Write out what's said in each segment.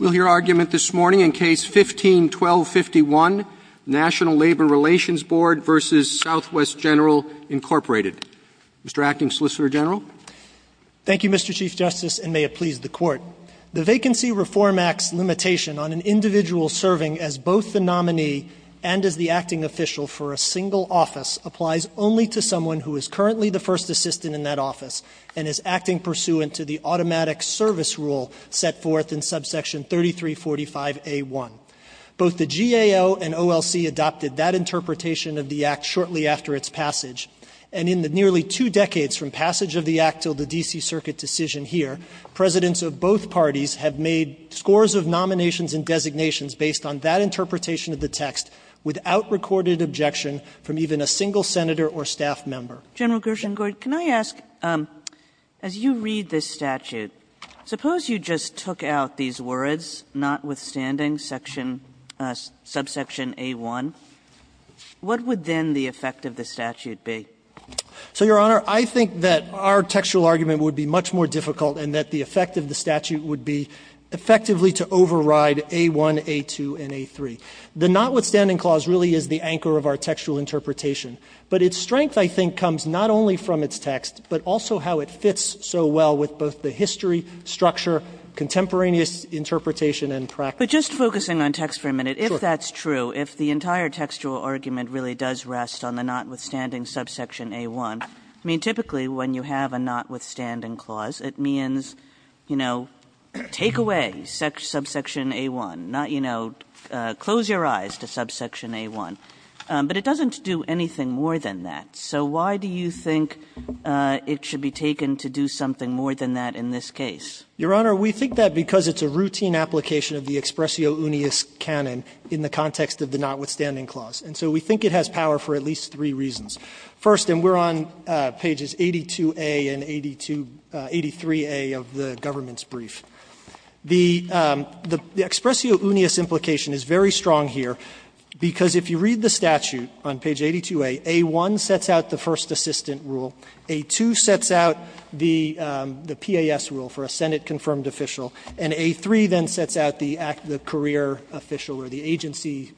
Thank you, Mr. Chief Justice, and may it please the Court. The Vacancy Reform Act's limitation on an individual serving as both the nominee and as the acting official for a single office applies only to someone who is currently the first assistant in that office and is acting pursuant to the Automatic Service Rule set forth in Section 1251 of the National Labor Relations Act. Under Section 1345A1, both the GAO and OLC adopted that interpretation of the Act shortly after its passage, and in the nearly two decades from passage of the Act till the D.C. Circuit decision here, Presidents of both parties have made scores of nominations and designations based on that interpretation of the text without recorded objection from even a single Senator or staff member. Sotomayor, can I ask, as you read this statute, suppose you just took out these words, notwithstanding subsection A1, what would then the effect of the statute be? So, Your Honor, I think that our textual argument would be much more difficult and that the effect of the statute would be effectively to override A1, A2, and A3. The notwithstanding clause really is the anchor of our textual interpretation, but its strength, I think, comes not only from its text, but also how it fits so well with both the history, structure, contemporaneous interpretation and practice. Kagan. Kagan. But just focusing on text for a minute, if that's true, if the entire textual argument really does rest on the notwithstanding subsection A1, I mean, typically when you have a notwithstanding clause, it means, you know, take away subsection A1, not, you know, close your eyes to subsection A1. But it doesn't do anything more than that. So why do you think it should be taken to do something more than that in this case? Your Honor, we think that because it's a routine application of the expressio unius canon in the context of the notwithstanding clause. And so we think it has power for at least three reasons. First, and we're on pages 82a and 82 83a of the government's brief, the expressio unius implication is very strong here, because if you read the statute on page 82a, A1 sets out the first assistant rule, A2 sets out the PAS rule for a Senate-confirmed official, and A3 then sets out the career official or the agency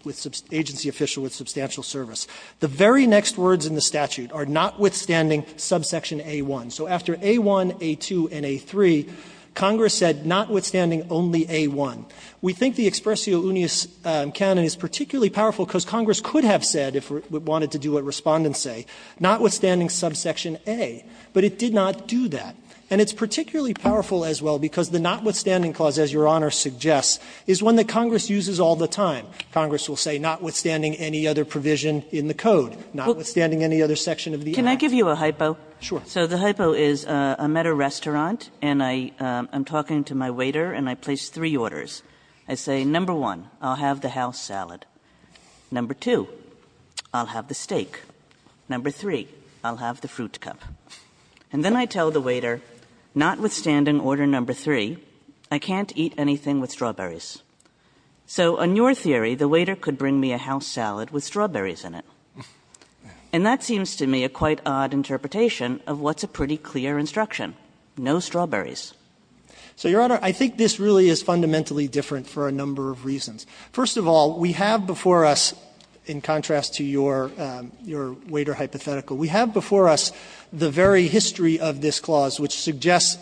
official with substantial service. The very next words in the statute are notwithstanding subsection A1. So after A1, A2, and A3, Congress said notwithstanding only A1. We think the expressio unius canon is particularly powerful because Congress could have said, if we wanted to do what Respondents say, notwithstanding subsection A, but it did not do that. And it's particularly powerful as well because the notwithstanding clause, as Your Honor suggests, is one that Congress uses all the time. Congress will say notwithstanding any other provision in the code, notwithstanding any other section of the Act. Kagan. So the hypo is I'm at a restaurant and I'm talking to my waiter and I place three orders. I say, number one, I'll have the house salad. Number two, I'll have the steak. Number three, I'll have the fruit cup. And then I tell the waiter, notwithstanding order number three, I can't eat anything with strawberries. So on your theory, the waiter could bring me a house salad with strawberries in it. And that seems to me a quite odd interpretation of what's a pretty clear instruction, no strawberries. So, Your Honor, I think this really is fundamentally different for a number of reasons. First of all, we have before us, in contrast to your waiter hypothetical, we have before us the very history of this clause, which suggests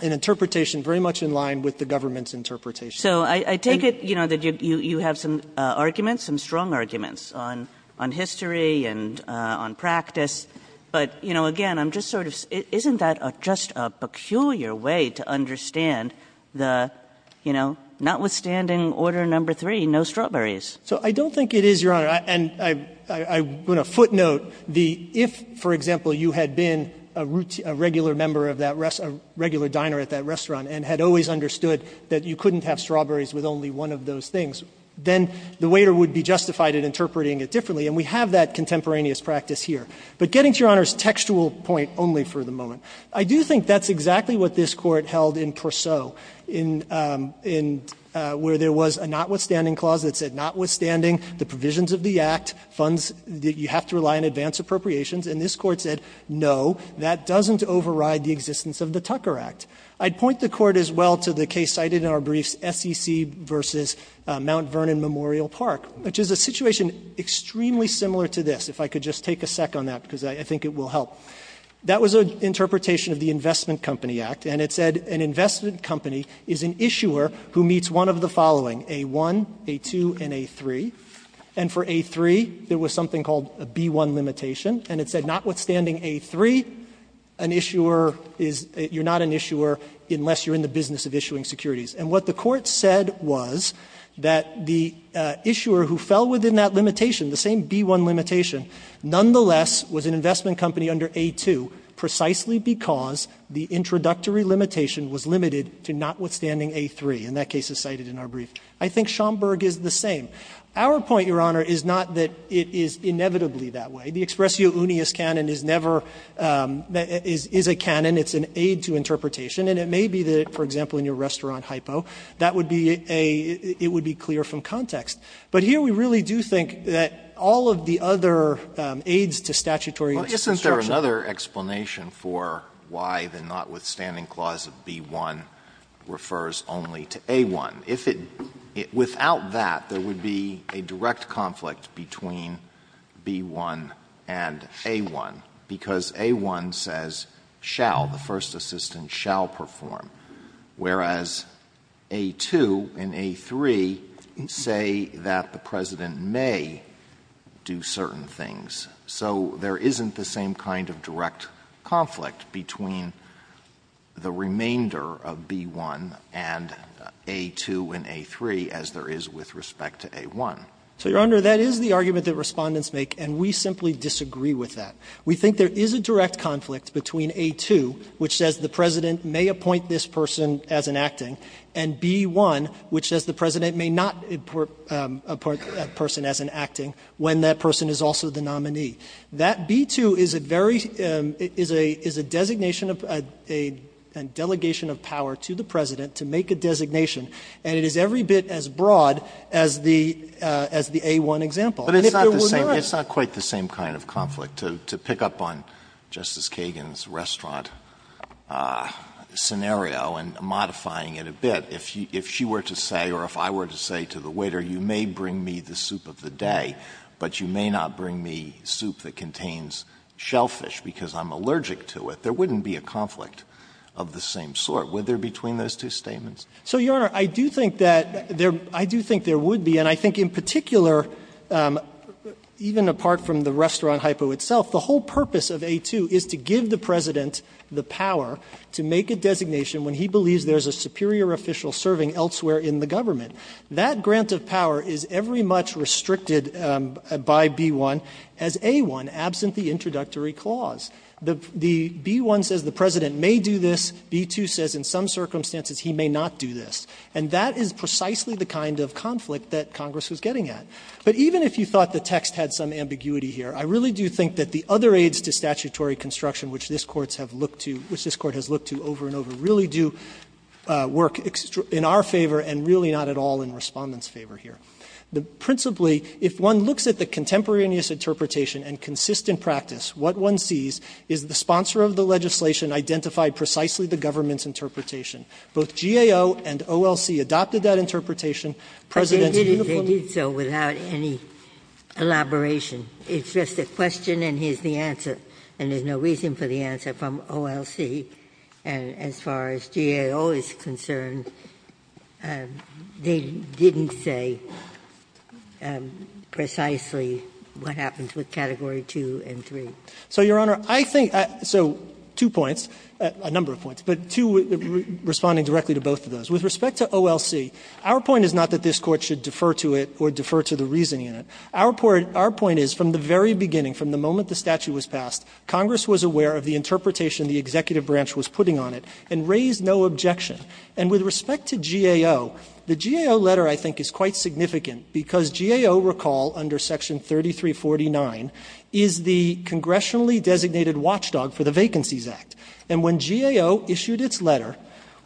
an interpretation very much in line with the government's interpretation. So I take it, you know, that you have some arguments, some strong arguments on history and on practice. But, you know, again, I'm just sort of — isn't that just a peculiar way to understand the, you know, notwithstanding order number three, no strawberries? So I don't think it is, Your Honor. And I want to footnote the — if, for example, you had been a regular member of that restaurant, a regular diner at that restaurant, and had always understood that you couldn't have strawberries with only one of those things, then the waiter would be justified in interpreting it differently, and we have that contemporaneous practice here. But getting to Your Honor's textual point only for the moment, I do think that's exactly what this Court held in Pourceau, in — where there was a notwithstanding clause that said, notwithstanding the provisions of the Act, funds — you have to rely on advance appropriations, and this Court said, no, that doesn't override the existence of the Tucker Act. I'd point the Court as well to the case cited in our briefs, SEC v. Mount Vernon Memorial Park, which is a situation extremely similar to this, if I could just take a sec on that, because I think it will help. That was an interpretation of the Investment Company Act, and it said an investment company is an issuer who meets one of the following, A-1, A-2, and A-3. And for A-3, there was something called a B-1 limitation, and it said, notwithstanding A-3, an issuer is — you're not an issuer unless you're in the business of issuing securities. And what the Court said was that the issuer who fell within that limitation, the same B-1 limitation, nonetheless was an investment company under A-2 precisely because the introductory limitation was limited to notwithstanding A-3. And that case is cited in our brief. I think Schomburg is the same. Our point, Your Honor, is not that it is inevitably that way. The expressio unius canon is never — is a canon. It's an aid to interpretation. And it may be that, for example, in your restaurant hypo, that would be a — it would be clear from context. But here we really do think that all of the other aids to statutory — Alitoso, is there another explanation for why the notwithstanding clause of B-1 refers only to A-1? If it — without that, there would be a direct conflict between B-1 and A-1, because A-1 says, shall, the first assistant shall perform, whereas A-2 and A-3 say that the President may do certain things. So there isn't the same kind of direct conflict between the remainder of B-1 and A-2 and A-3 as there is with respect to A-1. So, Your Honor, that is the argument that Respondents make, and we simply disagree with that. We think there is a direct conflict between A-2, which says the President may appoint this person as an acting, and B-1, which says the President may not appoint a person as an acting when that person is also the nominee. That B-2 is a very — is a designation of a delegation of power to the President to make a designation, and it is every bit as broad as the — as the A-1 example. And if there were not — Alitos, to pick up on Justice Kagan's restaurant scenario and modifying it a bit, if she were to say, or if I were to say to the waiter, you may bring me the soup of the day, but you may not bring me soup that contains shellfish because I'm allergic to it, there wouldn't be a conflict of the same sort, would there, between those two statements? So, Your Honor, I do think that there — I do think there would be, and I think in particular, even apart from the restaurant hypo itself, the whole purpose of A-2 is to give the President the power to make a designation when he believes there is a superior official serving elsewhere in the government. That grant of power is every much restricted by B-1 as A-1, absent the introductory clause. The B-1 says the President may do this. B-2 says in some circumstances he may not do this. And that is precisely the kind of conflict that Congress was getting at. But even if you thought the text had some ambiguity here, I really do think that the other aids to statutory construction which this Court has looked to over and over really do work in our favor and really not at all in Respondent's favor here. Principally, if one looks at the contemporaneous interpretation and consistent practice, what one sees is the sponsor of the legislation identified precisely the government's interpretation. Both GAO and OLC adopted that interpretation. President's uniformity. Ginsburg-Gilbert. They did so without any elaboration. It's just a question and here's the answer. And there's no reason for the answer from OLC. And as far as GAO is concerned, they didn't say precisely what happens with Category 2 and 3. So, Your Honor, I think so two points, a number of points. But two, responding directly to both of those. With respect to OLC, our point is not that this Court should defer to it or defer to the reasoning in it. Our point is from the very beginning, from the moment the statute was passed, Congress was aware of the interpretation the executive branch was putting on it and raised no objection. And with respect to GAO, the GAO letter I think is quite significant because GAO, recall under section 3349, is the congressionally designated watchdog for the Vacancies Act. And when GAO issued its letter,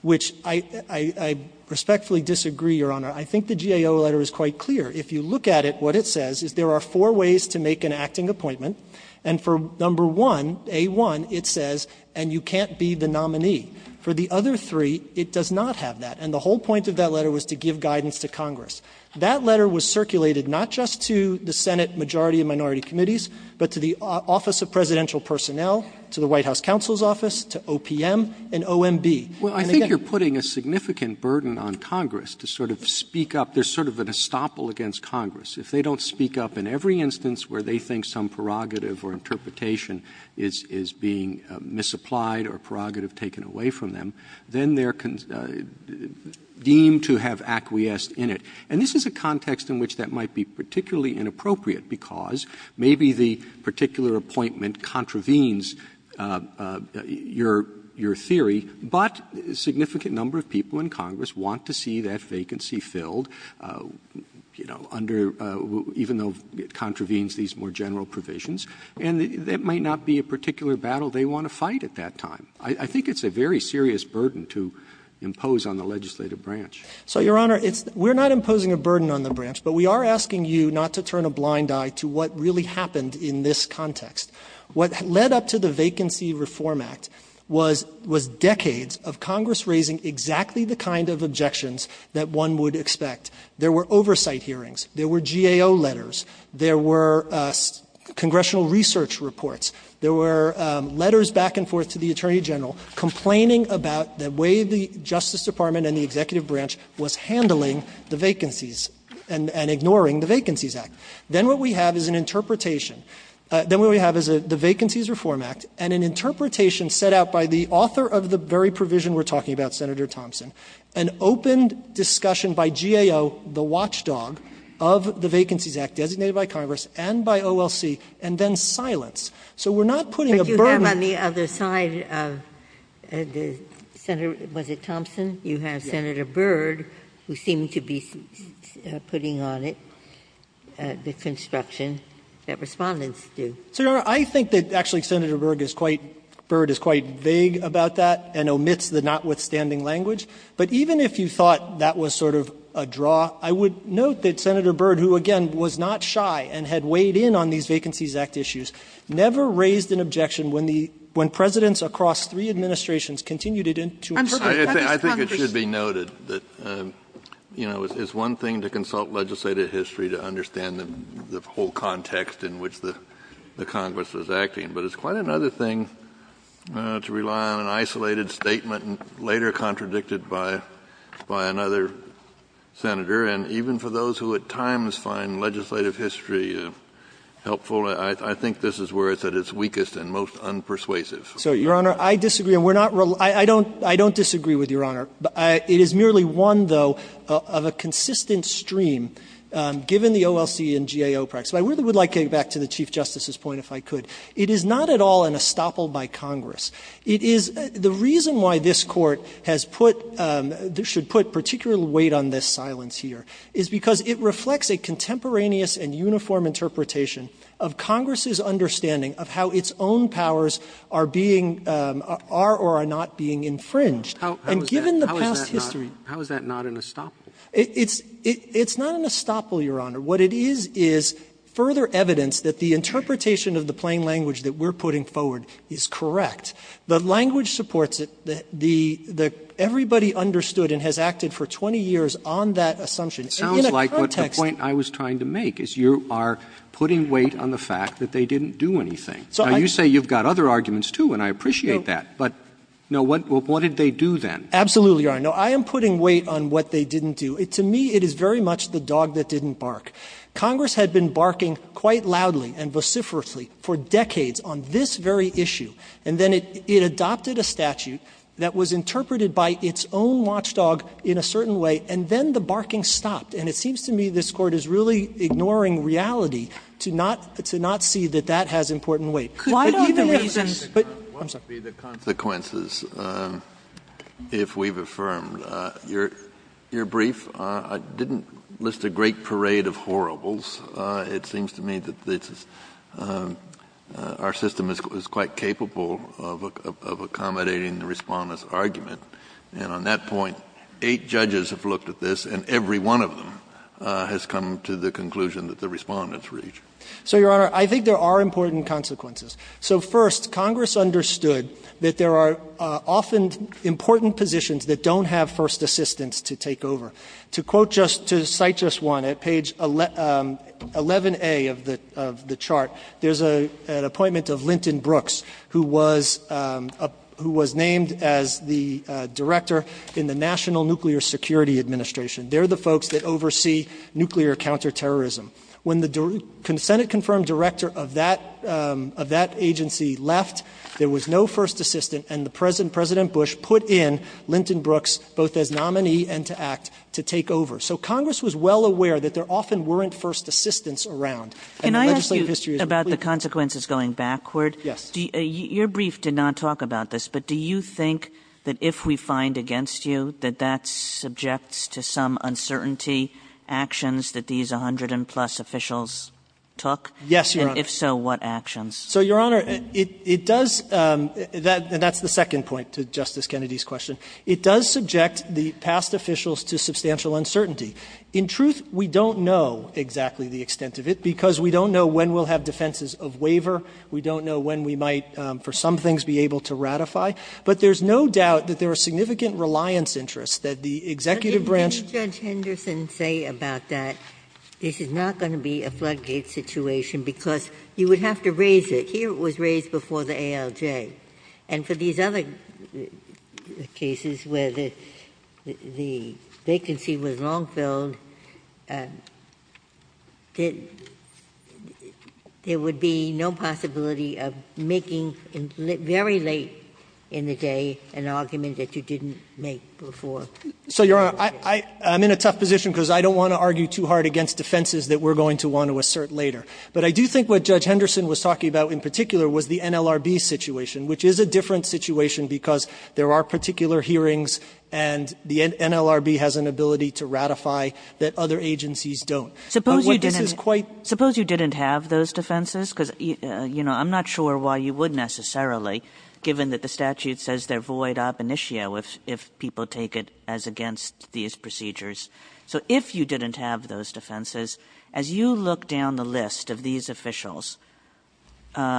which I respectfully disagree, Your Honor, I think the GAO letter is quite clear. If you look at it, what it says is there are four ways to make an acting appointment. And for number one, A1, it says, and you can't be the nominee. For the other three, it does not have that. And the whole point of that letter was to give guidance to Congress. That letter was circulated not just to the Senate majority and minority committees, but to the Office of Presidential Personnel, to the White House Counsel's Office, to OPM and OMB. And, again to Congress. Roberts, I think you're putting a significant burden on Congress to sort of speak up. There's sort of an estoppel against Congress. If they don't speak up in every instance where they think some prerogative or interpretation is being misapplied or prerogative taken away from them, then they are deemed to have acquiesced in it. And this is a context in which that might be particularly inappropriate, because maybe the particular appointment contravenes your theory, but a significant number of people in Congress want to see that vacancy filled, you know, under the --" even though it contravenes these more general provisions. And that might not be a particular battle they want to fight at that time. I think it's a very serious burden to impose on the legislative branch. So, Your Honor, we're not imposing a burden on the branch, but we are asking you not to turn a blind eye to what really happened in this context. What led up to the Vacancy Reform Act was decades of Congress raising exactly the kind of objections that one would expect. There were oversight hearings. There were GAO letters. There were congressional research reports. There were letters back and forth to the Attorney General complaining about the way the Justice Department and the executive branch was handling the vacancies and ignoring the Vacancies Act. Then what we have is an interpretation. Then what we have is the Vacancies Reform Act and an interpretation set out by the author of the very provision we're talking about, Senator Thompson, an open discussion by GAO, the watchdog, of the Vacancies Act designated by Congress and by OLC, and then So we're not putting a burden on the branch. Ginsburg. But you have on the other side of the Senator, was it Thompson? You have Senator Byrd, who seemed to be putting on it. The construction that Respondents do. So I think that actually Senator Byrd is quite vague about that and omits the notwithstanding language. But even if you thought that was sort of a draw, I would note that Senator Byrd, who again was not shy and had weighed in on these Vacancies Act issues, never raised an objection when the when Presidents across three administrations continued it into interpretation. I think it should be noted that, you know, it's one thing to consult legislative history to understand the whole context in which the Congress was acting, but it's quite another thing to rely on an isolated statement and later contradicted by another senator. And even for those who at times find legislative history helpful, I think this is where it's at its weakest and most unpersuasive. So, Your Honor, I disagree. I don't disagree with Your Honor. It is merely one, though, of a consistent stream, given the OLC and GAO practice. I really would like to get back to the Chief Justice's point, if I could. It is not at all an estoppel by Congress. It is the reason why this Court has put, should put particular weight on this silence here, is because it reflects a contemporaneous and uniform interpretation of Congress's understanding of how its own powers are being, are or are not being infringed. And given the past history How is that not an estoppel? It's not an estoppel, Your Honor. What it is is further evidence that the interpretation of the plain language that we're putting forward is correct. The language supports it. The — everybody understood and has acted for 20 years on that assumption. And in a context It sounds like what the point I was trying to make is you are putting weight on the fact that they didn't do anything. Now, you say you've got other arguments, too, and I appreciate that. But, no, what did they do then? Absolutely, Your Honor. No, I am putting weight on what they didn't do. To me, it is very much the dog that didn't bark. Congress had been barking quite loudly and vociferously for decades on this very issue. And then it adopted a statute that was interpreted by its own watchdog in a certain way, and then the barking stopped. And it seems to me this Court is really ignoring reality to not see that that has important weight. But even if it's But even if it's Why don't the reasons What would be the consequences if we've affirmed your brief? I didn't list a great parade of horribles. It seems to me that our system is quite capable of accommodating the Respondent's argument. And on that point, eight judges have looked at this, and every one of them has come to the conclusion that the Respondents reach. So, Your Honor, I think there are important consequences. So, first, Congress understood that there are often important positions that don't have first assistance to take over. To quote just to cite just one, at page 11A of the chart, there's an appointment of Linton Brooks, who was named as the director in the National Nuclear Security Administration. They're the folks that oversee nuclear counterterrorism. When the Senate-confirmed director of that agency left, there was no first assistant, and President Bush put in Linton Brooks, both as nominee and to act, to take over. So Congress was well aware that there often weren't first assistants around. Can I ask you about the consequences going backward? Yes. Your brief did not talk about this. But do you think that if we find against you that that subjects to some uncertainty actions that these 100 plus officials took? Yes, Your Honor. And if so, what actions? So, Your Honor, it does that. And that's the second point to Justice Kennedy's question. It does subject the past officials to substantial uncertainty. In truth, we don't know exactly the extent of it, because we don't know when we'll have defenses of waiver. We don't know when we might, for some things, be able to ratify. But there's no doubt that there are significant reliance interests that the executive branch But didn't Judge Henderson say about that this is not going to be a floodgate situation, because you would have to raise it. Here it was raised before the ALJ. And for these other cases where the vacancy was long-filled, there would be no possibility of making, very late in the day, an argument that you didn't make before. So, Your Honor, I'm in a tough position because I don't want to argue too hard against defenses that we're going to want to assert later. But I do think what Judge Henderson was talking about in particular was the NLRB situation, which is a different situation because there are particular hearings and the NLRB has an ability to ratify that other agencies don't. But what this is quite --. Kagan, suppose you didn't have those defenses, because, you know, I'm not sure why you would necessarily, given that the statute says they're void ab initio if people take it as against these procedures. So if you didn't have those defenses, as you look down the list of these officials,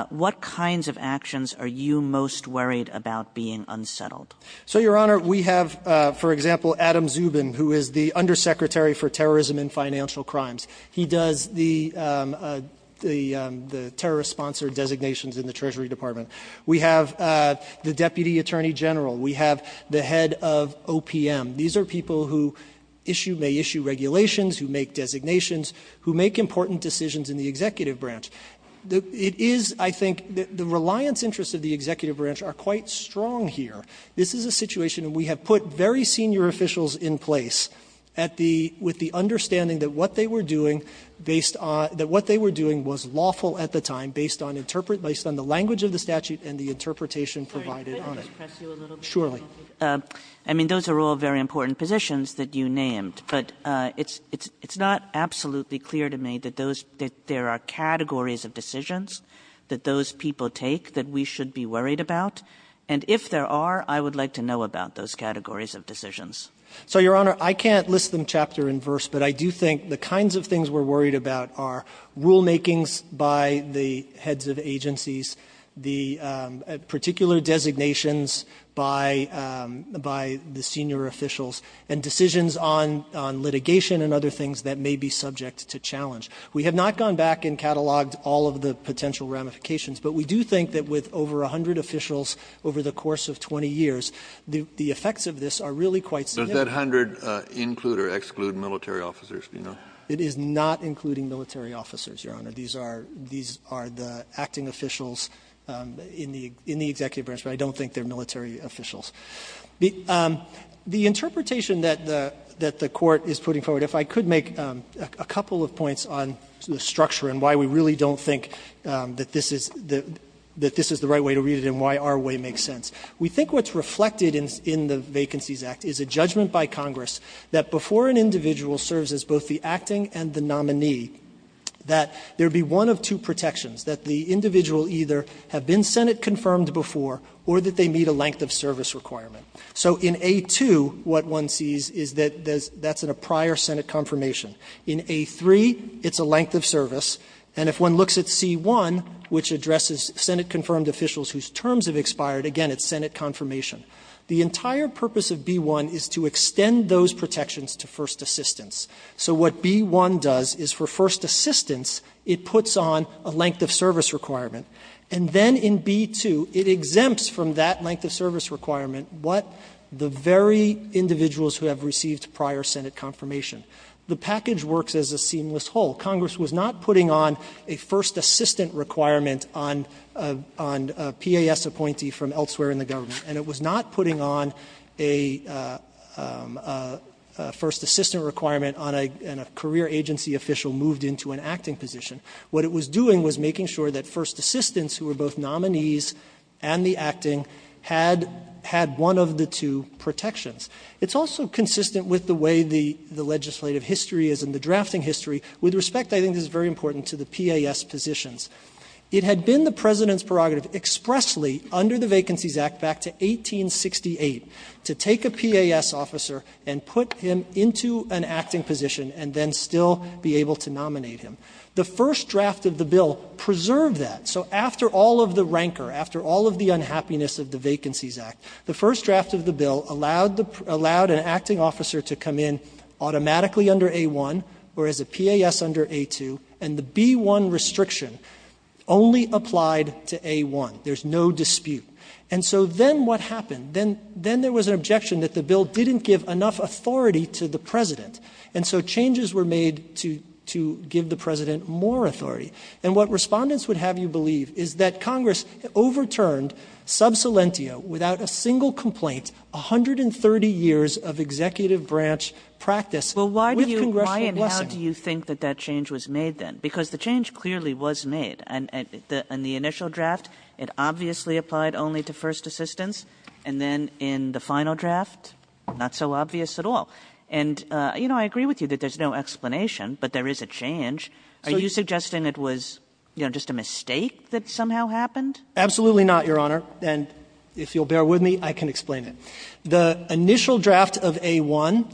what kinds of actions are you most worried about being unsettled? So, Your Honor, we have, for example, Adam Zubin, who is the Undersecretary for Terrorism and Financial Crimes. He does the terrorist-sponsored designations in the Treasury Department. We have the Deputy Attorney General. We have the head of OPM. These are people who issue or may issue regulations, who make designations, who make important decisions in the executive branch. It is, I think, the reliance interests of the executive branch are quite strong here. This is a situation where we have put very senior officials in place at the — with the understanding that what they were doing based on — that what they were doing was lawful at the time based on the language of the statute and the interpretation provided on it. Kagan. I mean, those are all very important positions that you named, but it's not absolutely clear to me that those — that there are categories of decisions that those people take that we should be worried about. And if there are, I would like to know about those categories of decisions. So, Your Honor, I can't list them chapter and verse, but I do think the kinds of things we're worried about are rulemakings by the heads of agencies, the particular designations by the senior officials, and decisions on litigation and other things that may be subject to challenge. We have not gone back and cataloged all of the potential ramifications, but we do think that with over 100 officials over the course of 20 years, the effects of this are really quite significant. Kennedy. So does that 100 include or exclude military officers, do you know? It is not including military officers, Your Honor. These are the acting officials in the executive branch, but I don't think they are military officials. The interpretation that the Court is putting forward, if I could make a couple of points on the structure and why we really don't think that this is the right way to read it and why our way makes sense. We think what's reflected in the Vacancies Act is a judgment by Congress that before an individual serves as both the acting and the nominee, that there be one of two protections, that the individual either have been Senate-confirmed before or that they meet a length of service requirement. So in A2, what one sees is that that's a prior Senate confirmation. In A3, it's a length of service. And if one looks at C1, which addresses Senate-confirmed officials whose terms have expired, again, it's Senate confirmation. The entire purpose of B1 is to extend those protections to first assistants. So what B1 does is for first assistants, it puts on a length of service requirement. And then in B2, it exempts from that length of service requirement what the very individuals who have received prior Senate confirmation. The package works as a seamless whole. Congress was not putting on a first assistant requirement on a PAS appointee from elsewhere in the government, and it was not putting on a first assistant requirement on a career agency official moved into an acting position. What it was doing was making sure that first assistants, who were both nominees and the acting, had one of the two protections. It's also consistent with the way the legislative history is and the drafting history. With respect, I think this is very important to the PAS positions. It had been the President's prerogative expressly under the Vacancies Act back to 1868 to take a PAS officer and put him into an acting position and then still be able to nominate him. The first draft of the bill preserved that. So after all of the rancor, after all of the unhappiness of the Vacancies Act, the first draft of the bill allowed an acting officer to come in automatically under A-1 or as a PAS under A-2, and the B-1 restriction only applied to A-1. There's no dispute. And so then what happened? Then there was an objection that the bill didn't give enough authority to the President. And so changes were made to give the President more authority. And what respondents would have you believe is that Congress overturned sub salentio without a single complaint, 130 years of executive branch practice. Kagan with congressional blessing. Kagan Well, why and how do you think that that change was made, then? Because the change clearly was made. In the initial draft, it obviously applied only to first assistance, and then in the final draft, not so obvious at all. And, you know, I agree with you that there's no explanation, but there is a change. Are you suggesting it was, you know, just a mistake that somehow happened? Gershengorn Absolutely not, Your Honor. And if you'll bear with me, I can explain it. The initial draft of A-1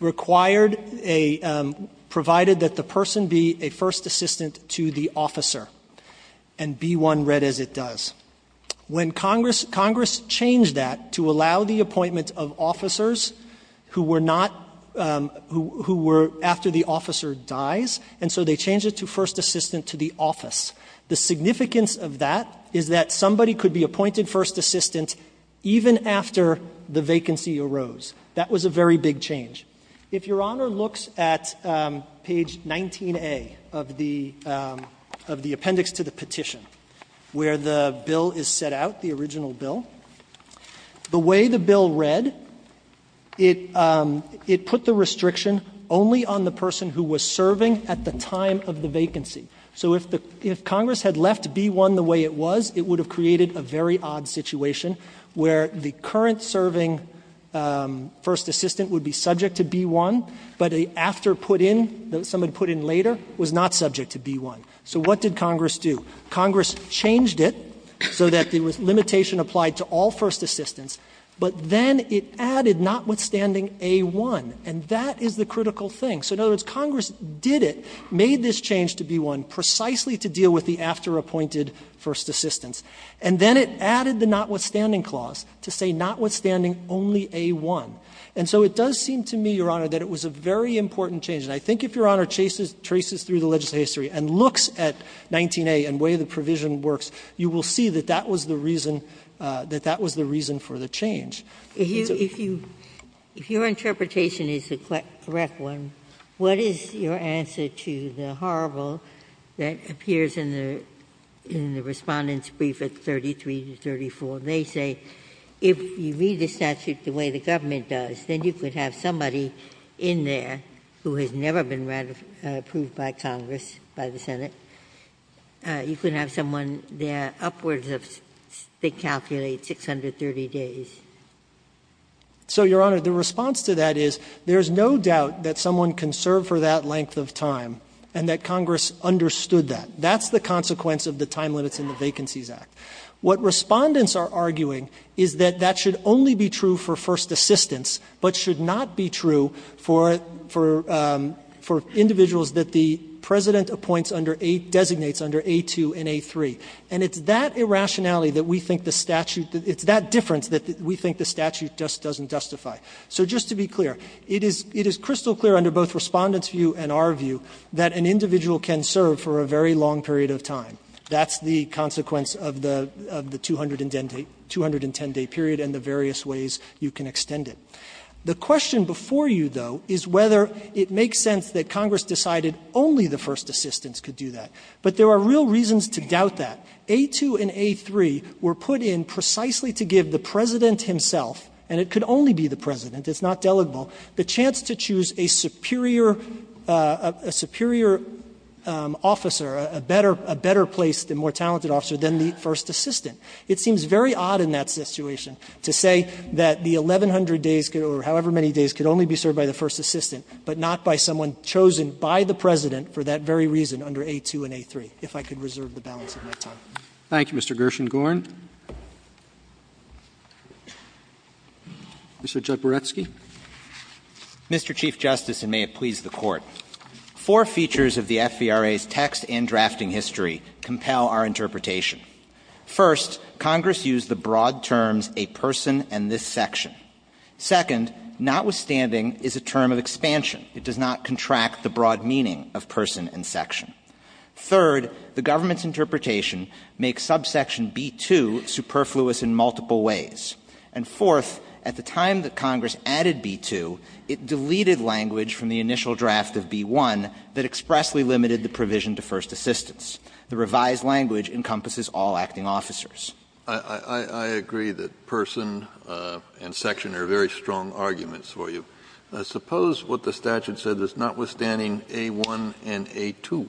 required a, provided that the person be a first assistant to the officer, and B-1 read as it does. When Congress, Congress changed that to allow the appointment of officers who were not, who were after the officer dies, and so they changed it to first assistant to the office. The significance of that is that somebody could be appointed first assistant even after the vacancy arose. That was a very big change. If Your Honor looks at page 19A of the, of the appendix to the petition, where the bill is set out, the original bill, the way the bill read, it put the restriction only on the person who was serving at the time of the vacancy. So if the, if Congress had left B-1 the way it was, it would have created a very odd situation where the current serving first assistant would be subject to B-1, but after put in, someone put in later, was not subject to B-1. So what did Congress do? Congress changed it so that there was limitation applied to all first assistants, but then it added notwithstanding A-1, and that is the critical thing. So in other words, Congress did it, made this change to B-1 precisely to deal with the after appointed first assistants. And then it added the notwithstanding clause to say notwithstanding only A-1. And so it does seem to me, Your Honor, that it was a very important change. And I think if Your Honor traces through the legislative history and looks at 19A and where the provision works, you will see that that was the reason, that that was the reason for the change. Ginsburg. Ginsburg. If you, if your interpretation is the correct one, what is your answer to the horrible that appears in the, in the Respondent's brief at 33 and 34? They say if you read the statute the way the government does, then you could have somebody in there who has never been approved by Congress, by the Senate. You could have someone there upwards of, they calculate, 630 days. So, Your Honor, the response to that is, there's no doubt that someone can serve for that length of time, and that Congress understood that. That's the consequence of the time limits in the Vacancies Act. What Respondents are arguing is that that should only be true for first assistants, but should not be true for, for, for individuals that the President appoints under A, designates under A2 and A3. And it's that irrationality that we think the statute, it's that difference that we think the statute just doesn't justify. So just to be clear, it is, it is crystal clear under both Respondent's view and our view that an individual can serve for a very long period of time. That's the consequence of the, of the 210-day period and the various ways you can extend it. The question before you, though, is whether it makes sense that Congress decided that only the first assistants could do that. But there are real reasons to doubt that. A2 and A3 were put in precisely to give the President himself, and it could only be the President, it's not delegable, the chance to choose a superior, a superior officer, a better, a better placed and more talented officer than the first assistant. It seems very odd in that situation to say that the 1,100 days could, or however many days, could only be served by the first assistant, but not by someone chosen by the President for that very reason under A2 and A3, if I could reserve the balance of my time. Roberts. Thank you, Mr. Gershengorn. Mr. Jaboretsky. Mr. Chief Justice, and may it please the Court, four features of the FVRA's text and drafting history compel our interpretation. First, Congress used the broad terms a person and this section. Second, notwithstanding, is a term of expansion. It does not contract the broad meaning of person and section. Third, the government's interpretation makes subsection B2 superfluous in multiple ways. And fourth, at the time that Congress added B2, it deleted language from the initial draft of B1 that expressly limited the provision to first assistants. The revised language encompasses all acting officers. I agree that person and section are very strong arguments for you. Suppose what the statute said is notwithstanding A1 and A2,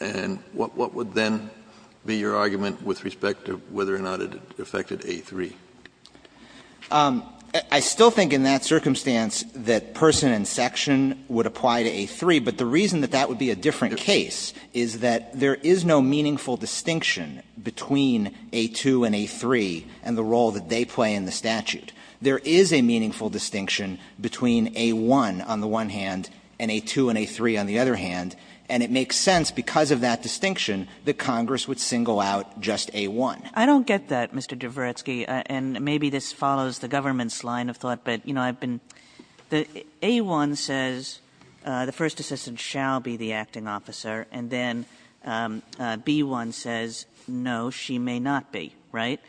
and what would then be your argument with respect to whether or not it affected A3? I still think in that circumstance that person and section would apply to A3, but the reason that that would be a different case is that there is no meaningful distinction between A2 and A3 and the role that they play in the statute. There is a meaningful distinction between A1 on the one hand and A2 and A3 on the other hand, and it makes sense because of that distinction that Congress would single out just A1. I don't get that, Mr. Dvoretsky, and maybe this follows the government's line of thought. But, you know, I've been the A1 says the first assistant shall be the acting officer, and then B1 says no, she may not be, right?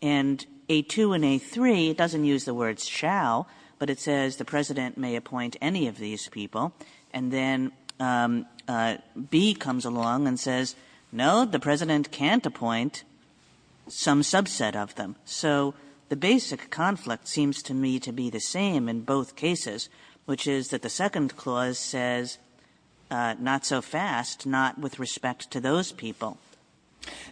And A2 and A3 doesn't use the words shall, but it says the President may appoint any of these people, and then B comes along and says, no, the President can't appoint some subset of them. So the basic conflict seems to me to be the same in both cases, which is that the second clause says not so fast, not with respect to those people.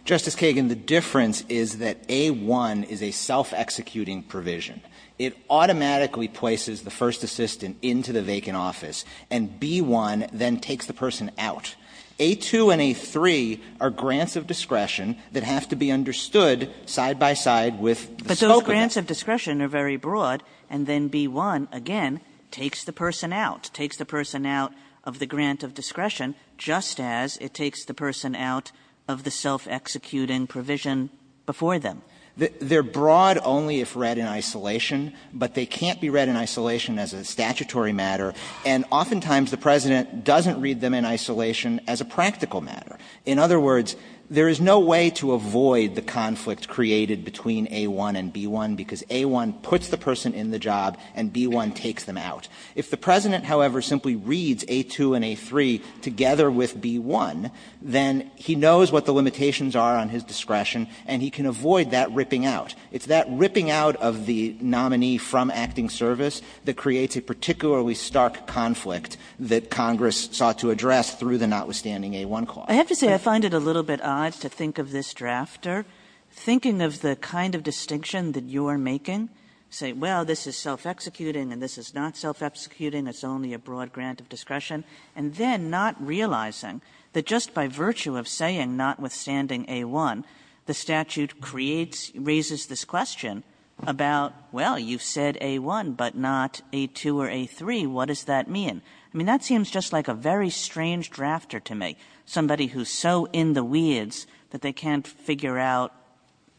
Justice Kagan, the difference is that A1 is a self-executing provision. It automatically places the first assistant into the vacant office, and B1 then takes the person out. A2 and A3 are grants of discretion that have to be understood side by side with the spokesman. But those grants of discretion are very broad, and then B1, again, takes the person out, takes the person out of the grant of discretion just as it takes the person out of the self-executing provision before them. They're broad only if read in isolation, but they can't be read in isolation as a statutory matter, and oftentimes the President doesn't read them in isolation as a practical matter. In other words, there is no way to avoid the conflict created between A1 and B1, because A1 puts the person in the job and B1 takes them out. If the President, however, simply reads A2 and A3 together with B1, then he knows what the limitations are on his discretion, and he can avoid that ripping out. It's that ripping out of the nominee from acting service that creates a particularly stark conflict that Congress sought to address through the notwithstanding A1 clause. Kagan. Kagan. I have to say I find it a little bit odd to think of this drafter, thinking of the kind of distinction that you are making, saying, well, this is self-executing and this is not self-executing, it's only a broad grant of discretion, and then not realizing that just by virtue of saying notwithstanding A1, the statute creates or raises this question about, well, you've said A1 but not A2 or A3, what does that mean? I mean, that seems just like a very strange drafter to me, somebody who is so in the weeds that they can't figure out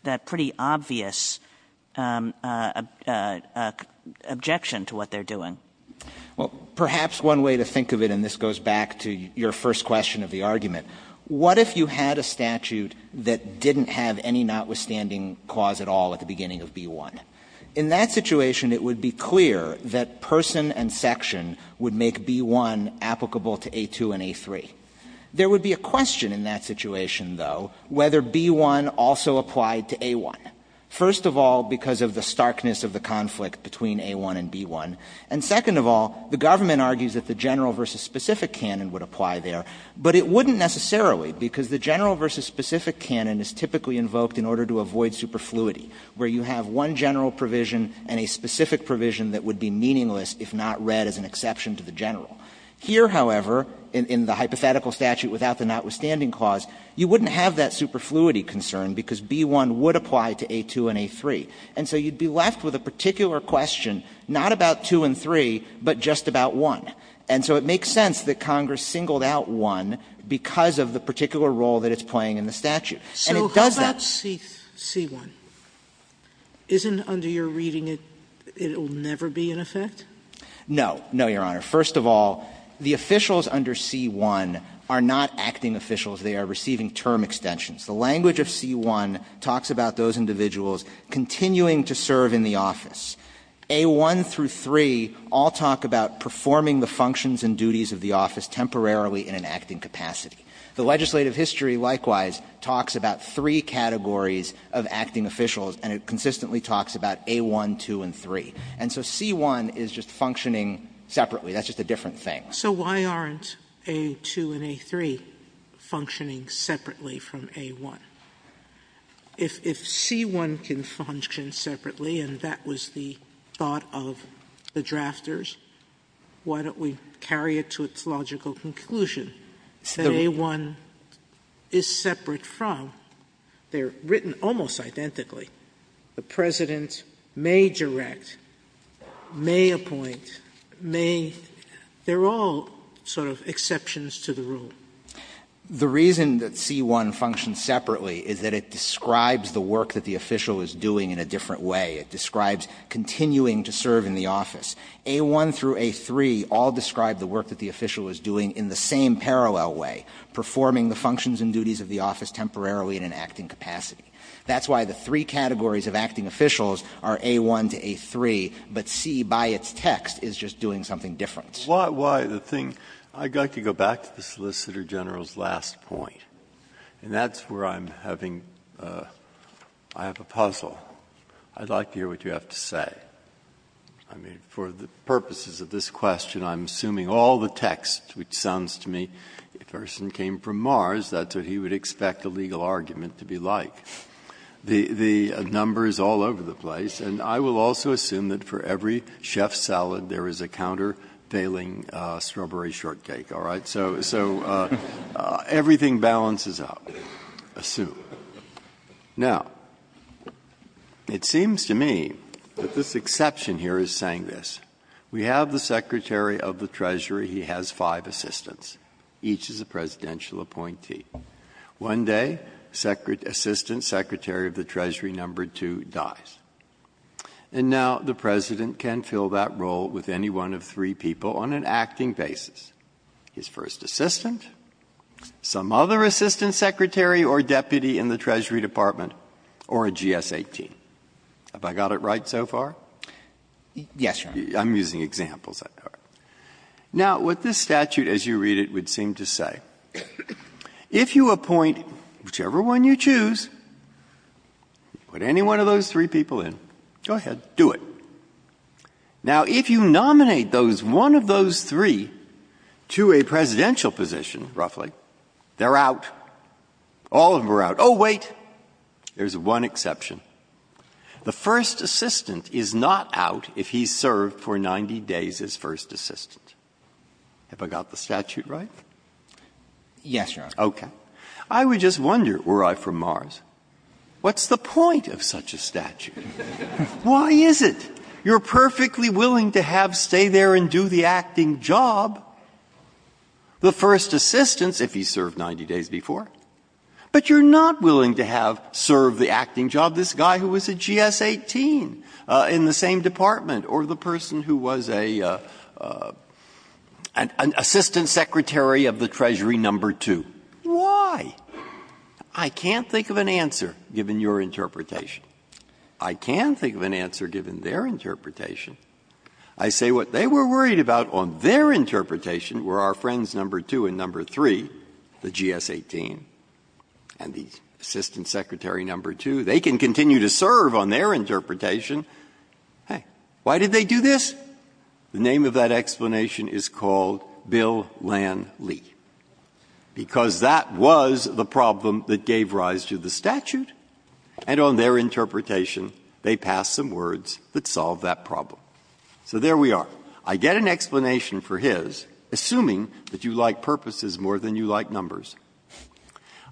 that pretty obvious objection to the fact that the Well, perhaps one way to think of it, and this goes back to your first question of the argument, what if you had a statute that didn't have any notwithstanding clause at all at the beginning of B1? In that situation, it would be clear that person and section would make B1 applicable to A2 and A3. There would be a question in that situation, though, whether B1 also applied to A1. First of all, because of the starkness of the conflict between A1 and B1, and second of all, the government argues that the general versus specific canon would apply there, but it wouldn't necessarily, because the general versus specific canon is typically invoked in order to avoid superfluity, where you have one general provision and a specific provision that would be meaningless if not read as an exception to the general. Here, however, in the hypothetical statute without the notwithstanding clause, you wouldn't have that superfluity concern because B1 would apply to A2 and A3. And so you would be left with a particular question, not about 2 and 3, but just about 1. And so it makes sense that Congress singled out 1 because of the particular role that it's playing in the statute. And it does that. Sotomayor, isn't under your reading it will never be in effect? No. No, Your Honor. First of all, the officials under C1 are not acting officials. They are receiving term extensions. The language of C1 talks about those individuals continuing to serve in the office. A1 through 3 all talk about performing the functions and duties of the office temporarily in an acting capacity. The legislative history likewise talks about three categories of acting officials, and it consistently talks about A1, 2, and 3. And so C1 is just functioning separately. That's just a different thing. Sotomayor, so why aren't A2 and A3 functioning separately from A1? If C1 can function separately, and that was the thought of the drafters, why don't we carry it to its logical conclusion that A1 is separate from? They are written almost identically. The President may direct, may appoint, may they are all sort of exceptions to the rule. The reason that C1 functions separately is that it describes the work that the official is doing in a different way. It describes continuing to serve in the office. A1 through A3 all describe the work that the official is doing in the same parallel way, performing the functions and duties of the office temporarily in an acting capacity. That's why the three categories of acting officials are A1 to A3, but C by its text is just doing something different. Breyer, why the thing – I'd like to go back to the Solicitor General's last point, and that's where I'm having – I have a puzzle. I'd like to hear what you have to say. I mean, for the purposes of this question, I'm assuming all the text which sounds to me, if Erson came from Mars, that's what he would expect a legal argument to be like. The number is all over the place, and I will also assume that for every chef's salad there is a countervailing strawberry shortcake, all right? So everything balances out, assumed. Now, it seems to me that this exception here is saying this. We have the Secretary of the Treasury. He has five assistants. Each is a presidential appointee. One day, Assistant Secretary of the Treasury No. 2 dies. And now the President can fill that role with any one of three people on an acting basis, his first assistant, some other assistant secretary or deputy in the Treasury Department, or a GS-18. Have I got it right so far? Yes, Your Honor. I'm using examples. Now, what this statute, as you read it, would seem to say, if you have a presidential position, if you appoint whichever one you choose, put any one of those three people in, go ahead, do it. Now, if you nominate those one of those three to a presidential position, roughly, they're out. All of them are out. Oh, wait, there's one exception. The first assistant is not out if he's served for 90 days as first assistant. Have I got the statute right? Yes, Your Honor. Okay. I would just wonder, were I from Mars, what's the point of such a statute? Why is it you're perfectly willing to have stay there and do the acting job, the first assistant, if he served 90 days before, but you're not willing to have serve the acting job this guy who was a GS-18 in the same department or the person who was an assistant secretary of the Treasury No. 2? Why? I can't think of an answer, given your interpretation. I can think of an answer, given their interpretation. I say what they were worried about on their interpretation were our friends No. 2 and No. 3, the GS-18, and the assistant secretary No. 2. They can continue to serve on their interpretation. Hey, why did they do this? The name of that explanation is called Bill Lan Lee, because that was the problem that gave rise to the statute, and on their interpretation, they passed some words that solved that problem. So there we are. I get an explanation for his, assuming that you like purposes more than you like numbers.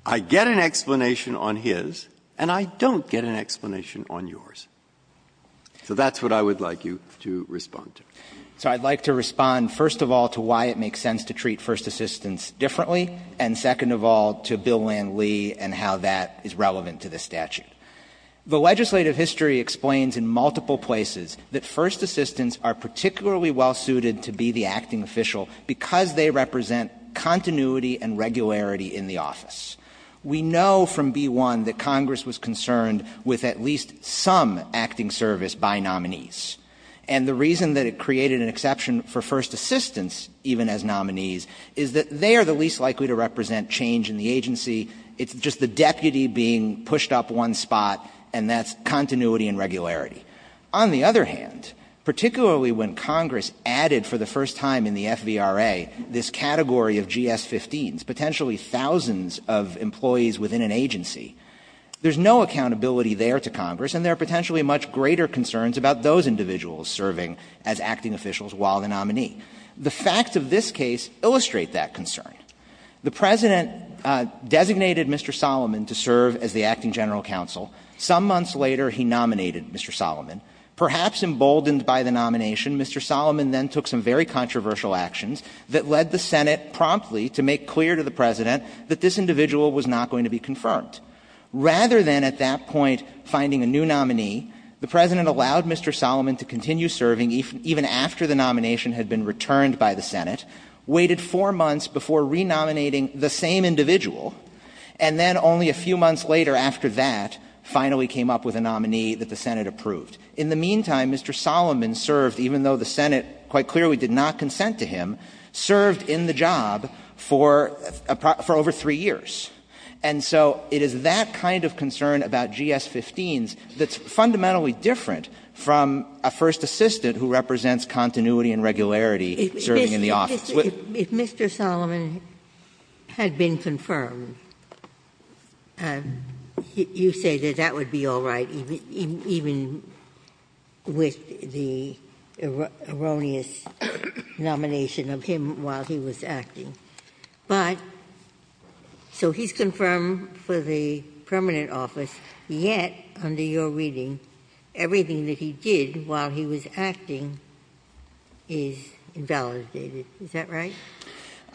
I get an explanation on his, and I don't get an explanation on yours. So that's what I would like you to respond to. So I'd like to respond, first of all, to why it makes sense to treat first assistants differently, and second of all, to Bill Lan Lee and how that is relevant to this statute. The legislative history explains in multiple places that first assistants are particularly well suited to be the acting official because they represent continuity and regularity in the office. We know from B-1 that Congress was concerned with at least some acting service by nominees, and the reason that it created an exception for first assistants even as nominees is that they are the least likely to represent change in the agency. It's just the deputy being pushed up one spot, and that's continuity and regularity. On the other hand, particularly when Congress added for the first time in the FVRA this category of GS-15s, potentially thousands of employees within an agency, there's no accountability there to Congress, and there are potentially much greater concerns about those individuals serving as acting officials while the nominee. The facts of this case illustrate that concern. The President designated Mr. Solomon to serve as the acting general counsel. Some months later, he nominated Mr. Solomon. Perhaps emboldened by the nomination, Mr. Solomon then took some very controversial actions that led the Senate promptly to make clear to the President that this individual was not going to be confirmed. Rather than at that point finding a new nominee, the President allowed Mr. Solomon to continue serving even after the nomination had been returned by the Senate, waited four months before renominating the same individual, and then only a few months later after that finally came up with a nominee that the Senate approved. In the meantime, Mr. Solomon served, even though the Senate quite clearly did not consent to him, served in the job for over three years. And so it is that kind of concern about GS-15s that's fundamentally different from a first assistant who represents continuity and regularity serving in the office. Ginsburg. If Mr. Solomon had been confirmed, you say that that would be all right, even with the erroneous nomination of him while he was acting. But so he's confirmed for the permanent office, yet under your reading, everything that he did while he was acting is invalidated, is that right?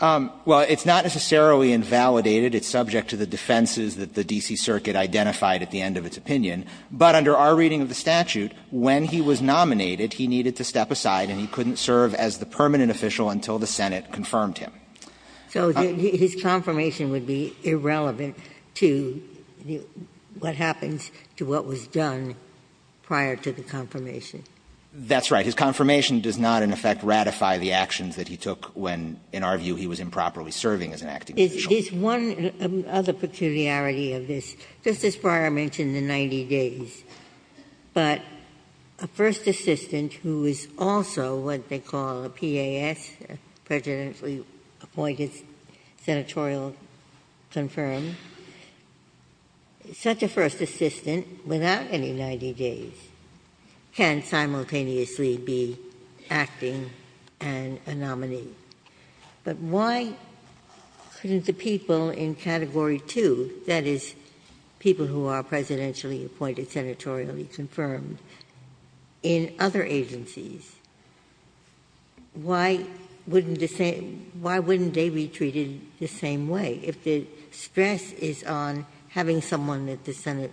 Well, it's not necessarily invalidated. It's subject to the defenses that the D.C. Circuit identified at the end of its opinion. But under our reading of the statute, when he was nominated, he needed to step aside and he couldn't serve as the permanent official until the Senate confirmed him. So his confirmation would be irrelevant to what happens to what was done prior to the confirmation? That's right. His confirmation does not, in effect, ratify the actions that he took when, in our view, he was improperly serving as an acting official. Is one other peculiarity of this, Justice Breyer mentioned the 90 days, but a first assistant who is also what they call a PAS, presidentially appointed, senatorial confirmed, such a first assistant, without any 90 days, can simultaneously be acting and a nominee. But why couldn't the people in Category 2, that is, people who are presidentially appointed, senatorially confirmed, in other agencies, why wouldn't the same ‑‑ why wouldn't they be treated the same way, if the stress is on having someone that the Senate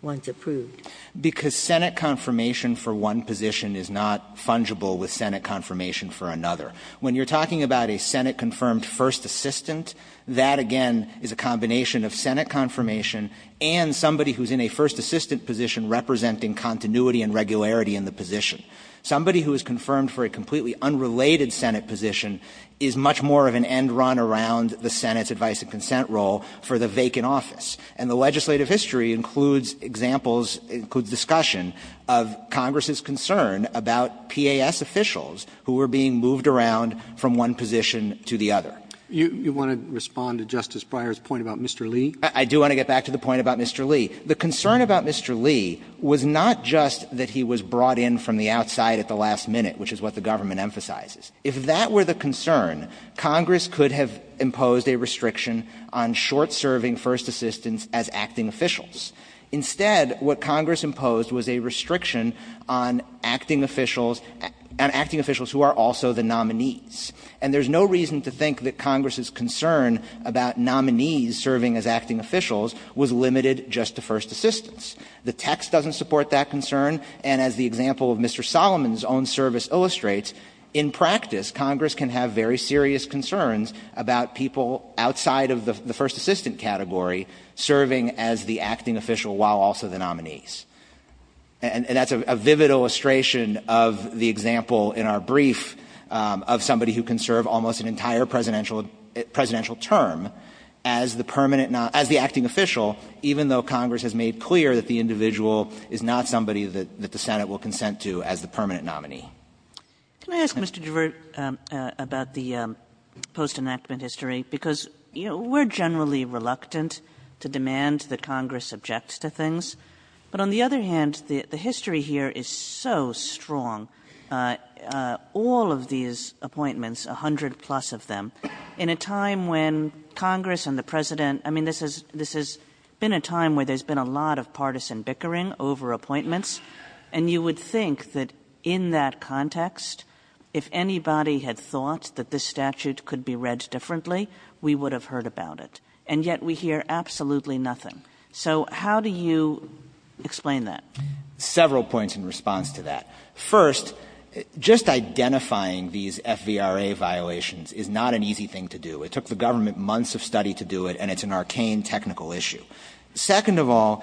wants approved? Because Senate confirmation for one position is not fungible with Senate confirmation for another. When you're talking about a Senate-confirmed first assistant, that, again, is a combination of Senate confirmation and somebody who is in a first assistant position representing continuity and regularity in the position. Somebody who is confirmed for a completely unrelated Senate position is much more of an end run around the Senate's advice and consent role for the vacant office. And the legislative history includes examples, includes discussion, of Congress's concern about PAS officials who were being moved around from one position to the other. You want to respond to Justice Breyer's point about Mr. Lee? I do want to get back to the point about Mr. Lee. The concern about Mr. Lee was not just that he was brought in from the outside at the last minute, which is what the government emphasizes. If that were the concern, Congress could have imposed a restriction on short-serving first assistants as acting officials. Instead, what Congress imposed was a restriction on acting officials, on acting officials who are also the nominees. And there's no reason to think that Congress's concern about nominees serving as acting officials was limited just to first assistants. The text doesn't support that concern, and as the example of Mr. Solomon's own service illustrates, in practice, Congress can have very serious concerns about people outside of the first assistant category serving as the acting official while also the nominees. And that's a vivid illustration of the example in our brief of somebody who can serve almost an entire presidential term as the permanent non — as the acting official, even though Congress has made clear that the individual is not somebody that the Senate will consent to as the permanent nominee. Can I ask, Mr. Duvert, about the postannouncement history? Because, you know, we're generally reluctant to demand the Congress objects to things, but on the other hand, the — the history here is so strong, all of these appointments — 100 plus of them — in a time when Congress and the president — I mean, this has — this has been a time where there's been a lot of partisan bickering over appointments, and you would think that in that context, if anybody had thought that this statute could be read differently, we would have heard about it. And yet we hear absolutely nothing. So how do you explain that? Several points in response to that. First, just identifying these FVRA violations is not an easy thing to do. It took the government months of study to do it, and it's an arcane technical issue. Second of all,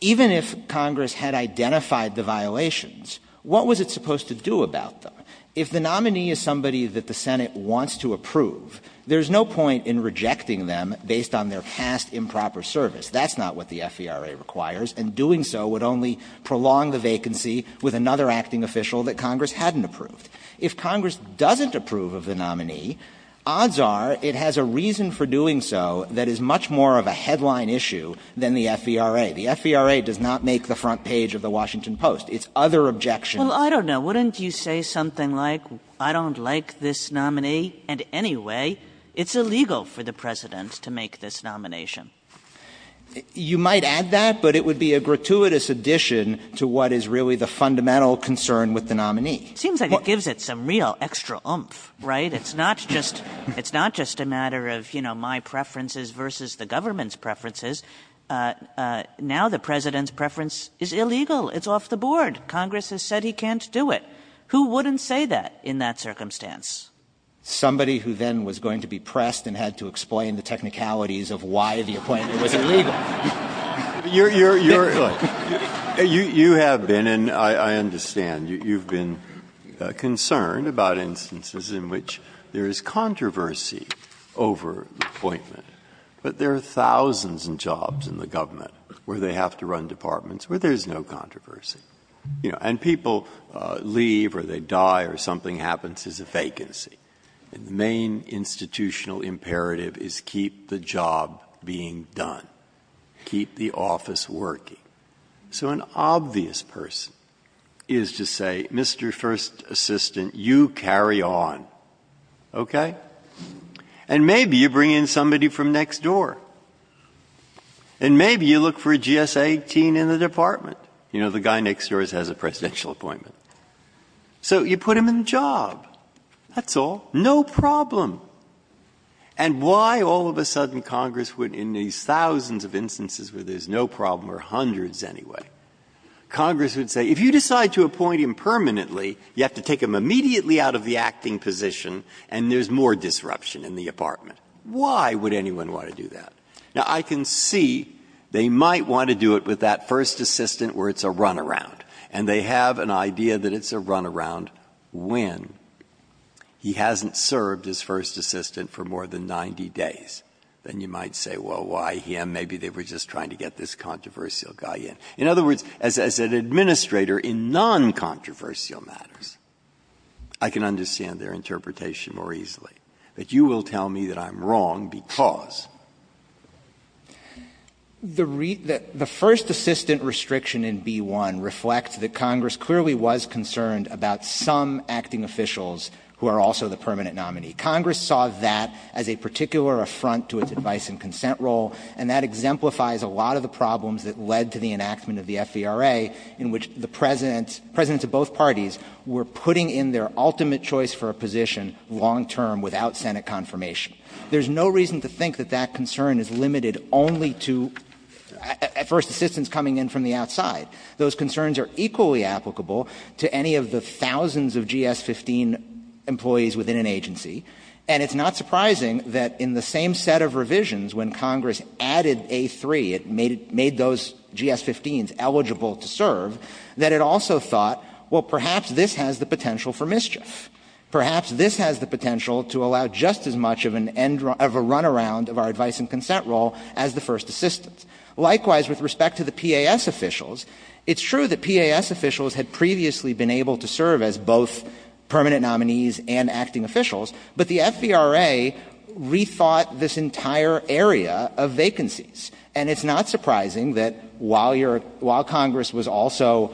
even if Congress had identified the violations, what was it supposed to do about them? If the nominee is somebody that the Senate wants to approve, there's no point in rejecting them based on their past improper service. That's not what the FVRA requires, and doing so would only prolong the vacancy with another acting official that Congress hadn't approved. If Congress doesn't approve of the nominee, odds are it has a reason for doing so that is much more of a headline issue than the FVRA. The FVRA does not make the front page of the Washington Post. It's other objections. Kagan. Well, I don't know. Wouldn't you say something like, I don't like this nominee, and anyway, it's illegal for the President to make this nomination? You might add that, but it would be a gratuitous addition to what is really the fundamental concern with the nominee. Seems like it gives it some real extra oomph, right? It's not just a matter of, you know, my preferences versus the government's preferences. Now the President's preference is illegal. It's off the board. Congress has said he can't do it. Who wouldn't say that in that circumstance? Somebody who then was going to be pressed and had to explain the technicalities of why the appointment was illegal. Breyer. You have been, and I understand, you have been concerned about instances in which there is controversy over the appointment, but there are thousands of jobs in the government where they have to run departments where there is no controversy. You know, and people leave or they die or something happens as a vacancy. And the main institutional imperative is keep the job being done, keep the office working. So an obvious person is to say, Mr. First Assistant, you carry on, okay? And maybe you bring in somebody from next door. And maybe you look for a GS-18 in the department. You know, the guy next door has a presidential appointment. So you put him in the job. That's all. No problem. And why all of a sudden Congress would, in these thousands of instances where there are hundreds anyway, Congress would say, if you decide to appoint him permanently, you have to take him immediately out of the acting position and there is more disruption in the department. Why would anyone want to do that? Now, I can see they might want to do it with that First Assistant where it's a run-around. And they have an idea that it's a run-around when he hasn't served as First Assistant for more than 90 days. Then you might say, well, why him? And maybe they were just trying to get this controversial guy in. In other words, as an administrator in non-controversial matters, I can understand their interpretation more easily. But you will tell me that I'm wrong because? The first assistant restriction in B-1 reflects that Congress clearly was concerned about some acting officials who are also the permanent nominee. Congress saw that as a particular affront to its advice and consent role, and that exemplifies a lot of the problems that led to the enactment of the FVRA, in which the presidents, presidents of both parties, were putting in their ultimate choice for a position long term without Senate confirmation. There's no reason to think that that concern is limited only to, at first, assistants coming in from the outside. Those concerns are equally applicable to any of the thousands of GS-15 employees within an agency, and it's not surprising that in the same set of revisions when Congress added A-3, it made those GS-15s eligible to serve, that it also thought, well, perhaps this has the potential for mischief. Perhaps this has the potential to allow just as much of an end of a runaround of our advice and consent role as the first assistants. Likewise, with respect to the PAS officials, it's true that PAS officials had previously been able to serve as both permanent nominees and acting officials, but the FVRA rethought this entire area of vacancies. And it's not surprising that while your – while Congress was also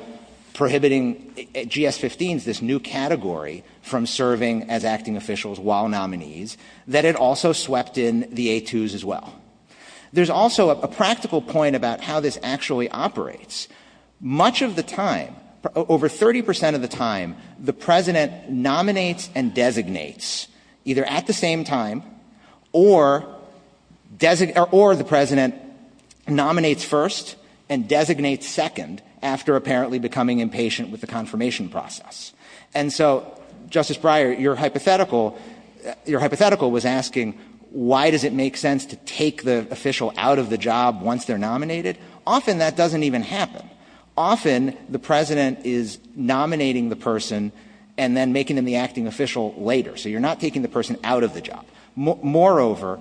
prohibiting GS-15s, this new category, from serving as acting officials while nominees, that it also swept in the A-2s as well. There's also a practical point about how this actually operates. Much of the time, over 30 percent of the time, the president nominates and designates either at the same time or – or the president nominates first and designates second after apparently becoming impatient with the confirmation process. And so, Justice Breyer, your hypothetical – your hypothetical was asking why does it make sense to take the official out of the job once they're nominated? Often that doesn't even happen. Often the president is nominating the person and then making them the acting official later. So you're not taking the person out of the job. Moreover,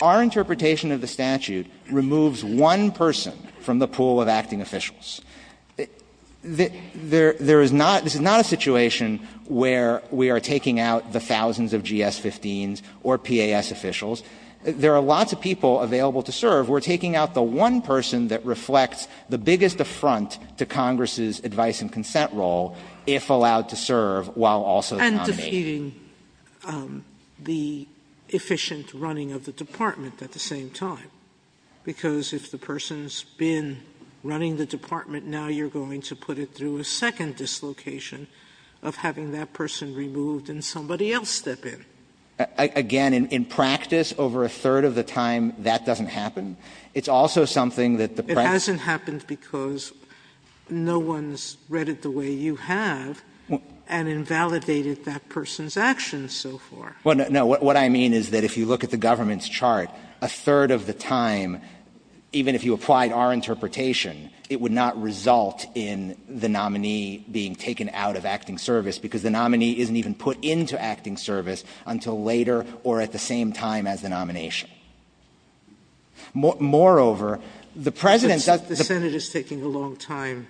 our interpretation of the statute removes one person from the pool of acting officials. There is not – this is not a situation where we are taking out the thousands of GS-15s or PAS officials. There are lots of people available to serve. We're taking out the one person that reflects the biggest affront to Congress's advice and consent role if allowed to serve while also the nominee. Sotomayor But that's not impeding the efficient running of the Department at the same time, because if the person's been running the Department, now you're going to put it through a second dislocation of having that person removed and somebody else step in. Again, in practice, over a third of the time that doesn't happen. It's also something that the President— It hasn't happened because no one's read it the way you have and invalidated that person's actions so far. No, what I mean is that if you look at the government's chart, a third of the time, even if you applied our interpretation, it would not result in the nominee being taken out of acting service because the nominee isn't even put into acting service until later or at the same time as the nomination. Moreover, the President— But the Senate is taking a long time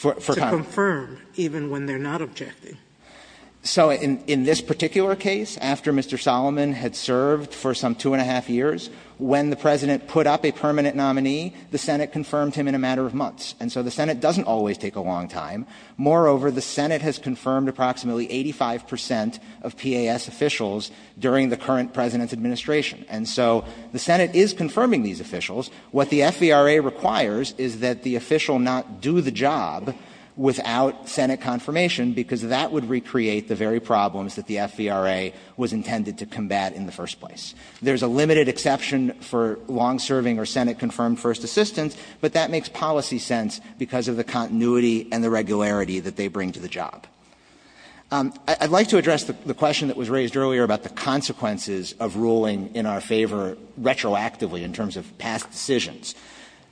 to confirm, even when they're not objecting. So in this particular case, after Mr. Solomon had served for some two and a half years, when the President put up a permanent nominee, the Senate confirmed him in a matter of months. And so the Senate doesn't always take a long time. Moreover, the Senate has confirmed approximately 85 percent of PAS officials during the current President's administration. And so the Senate is confirming these officials. What the FVRA requires is that the official not do the job without Senate confirmation, because that would recreate the very problems that the FVRA was intended to combat in the first place. There's a limited exception for long-serving or Senate-confirmed first assistants, but that makes policy sense because of the continuity and the regularity that they bring to the job. I'd like to address the question that was raised earlier about the consequences of ruling in our favor retroactively in terms of past decisions.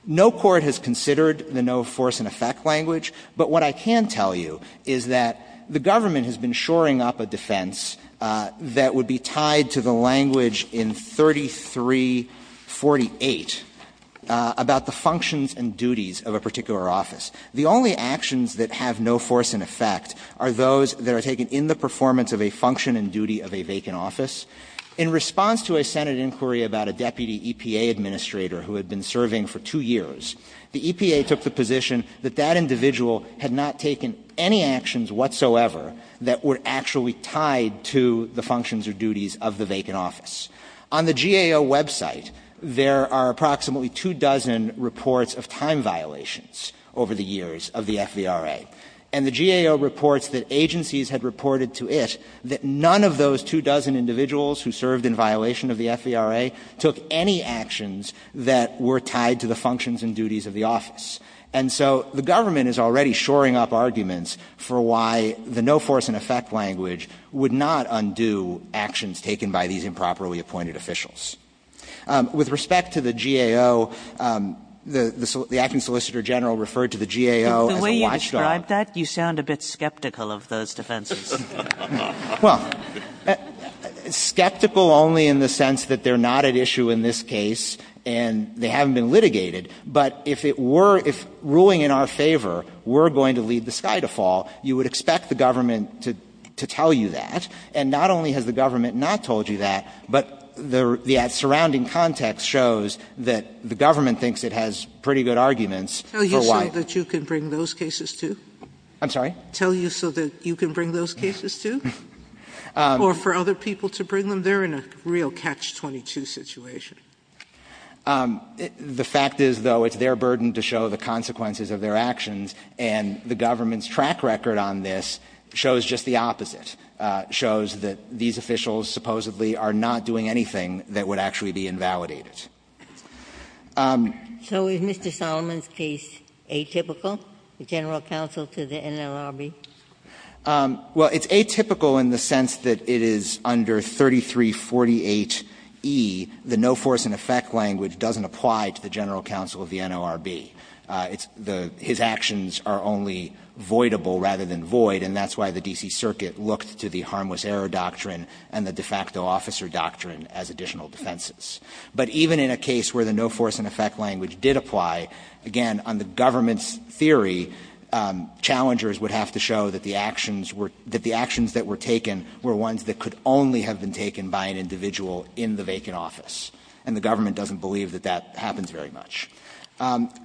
No court has considered the no force and effect language, but what I can tell you is that the government has been shoring up a defense that would be tied to the language in 3348 about the functions and duties of a particular office. The only actions that have no force and effect are those that are taken in the performance of a function and duty of a vacant office. In response to a Senate inquiry about a deputy EPA administrator who had been serving for two years, the EPA took the position that that individual had not taken any actions whatsoever that were actually tied to the functions or duties of the vacant office. On the GAO website, there are approximately two dozen reports of time violations over the years of the FVRA. And the GAO reports that agencies had reported to it that none of those two dozen individuals who served in violation of the FVRA took any actions that were tied to the functions and duties of the office. And so the government is already shoring up arguments for why the no force and effect language would not undo actions taken by these improperly appointed officials. With respect to the GAO, the acting solicitor general referred to the GAO as a watchdog. I'm glad you sound a bit skeptical of those defenses. Verrilli, Well, skeptical only in the sense that they're not at issue in this case and they haven't been litigated. But if it were, if ruling in our favor, we're going to lead the sky to fall, you would expect the government to tell you that. And not only has the government not told you that, but the surrounding context shows that the government thinks it has pretty good arguments for why. Sotomayor, tell you so that you can bring those cases to? Verrilli, I'm sorry? Sotomayor, tell you so that you can bring those cases to? Or for other people to bring them? They're in a real catch-22 situation. Verrilli, The fact is, though, it's their burden to show the consequences of their actions. And the government's track record on this shows just the opposite, shows that these officials supposedly are not doing anything that would actually be invalidated. Ginsburg, So is Mr. Solomon's case atypical, the general counsel to the NLRB? Verrilli, Well, it's atypical in the sense that it is under 3348e, the no-force-and-effect language doesn't apply to the general counsel of the NLRB. It's the his actions are only voidable rather than void, and that's why the D.C. Circuit looked to the harmless error doctrine and the de facto officer doctrine as additional defenses. But even in a case where the no-force-and-effect language did apply, again, on the government's theory, challengers would have to show that the actions were the actions that were taken were ones that could only have been taken by an individual in the vacant office. And the government doesn't believe that that happens very much.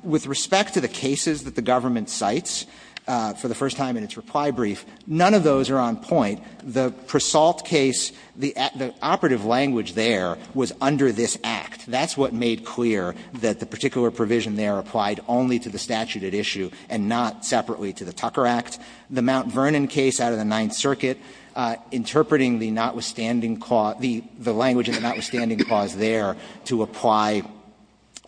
With respect to the cases that the government cites for the first time in its reply brief, none of those are on point. The Prasalt case, the operative language there was under this Act. That's what made clear that the particular provision there applied only to the statute at issue and not separately to the Tucker Act. The Mount Vernon case out of the Ninth Circuit, interpreting the notwithstanding clause, the language in the notwithstanding clause there to apply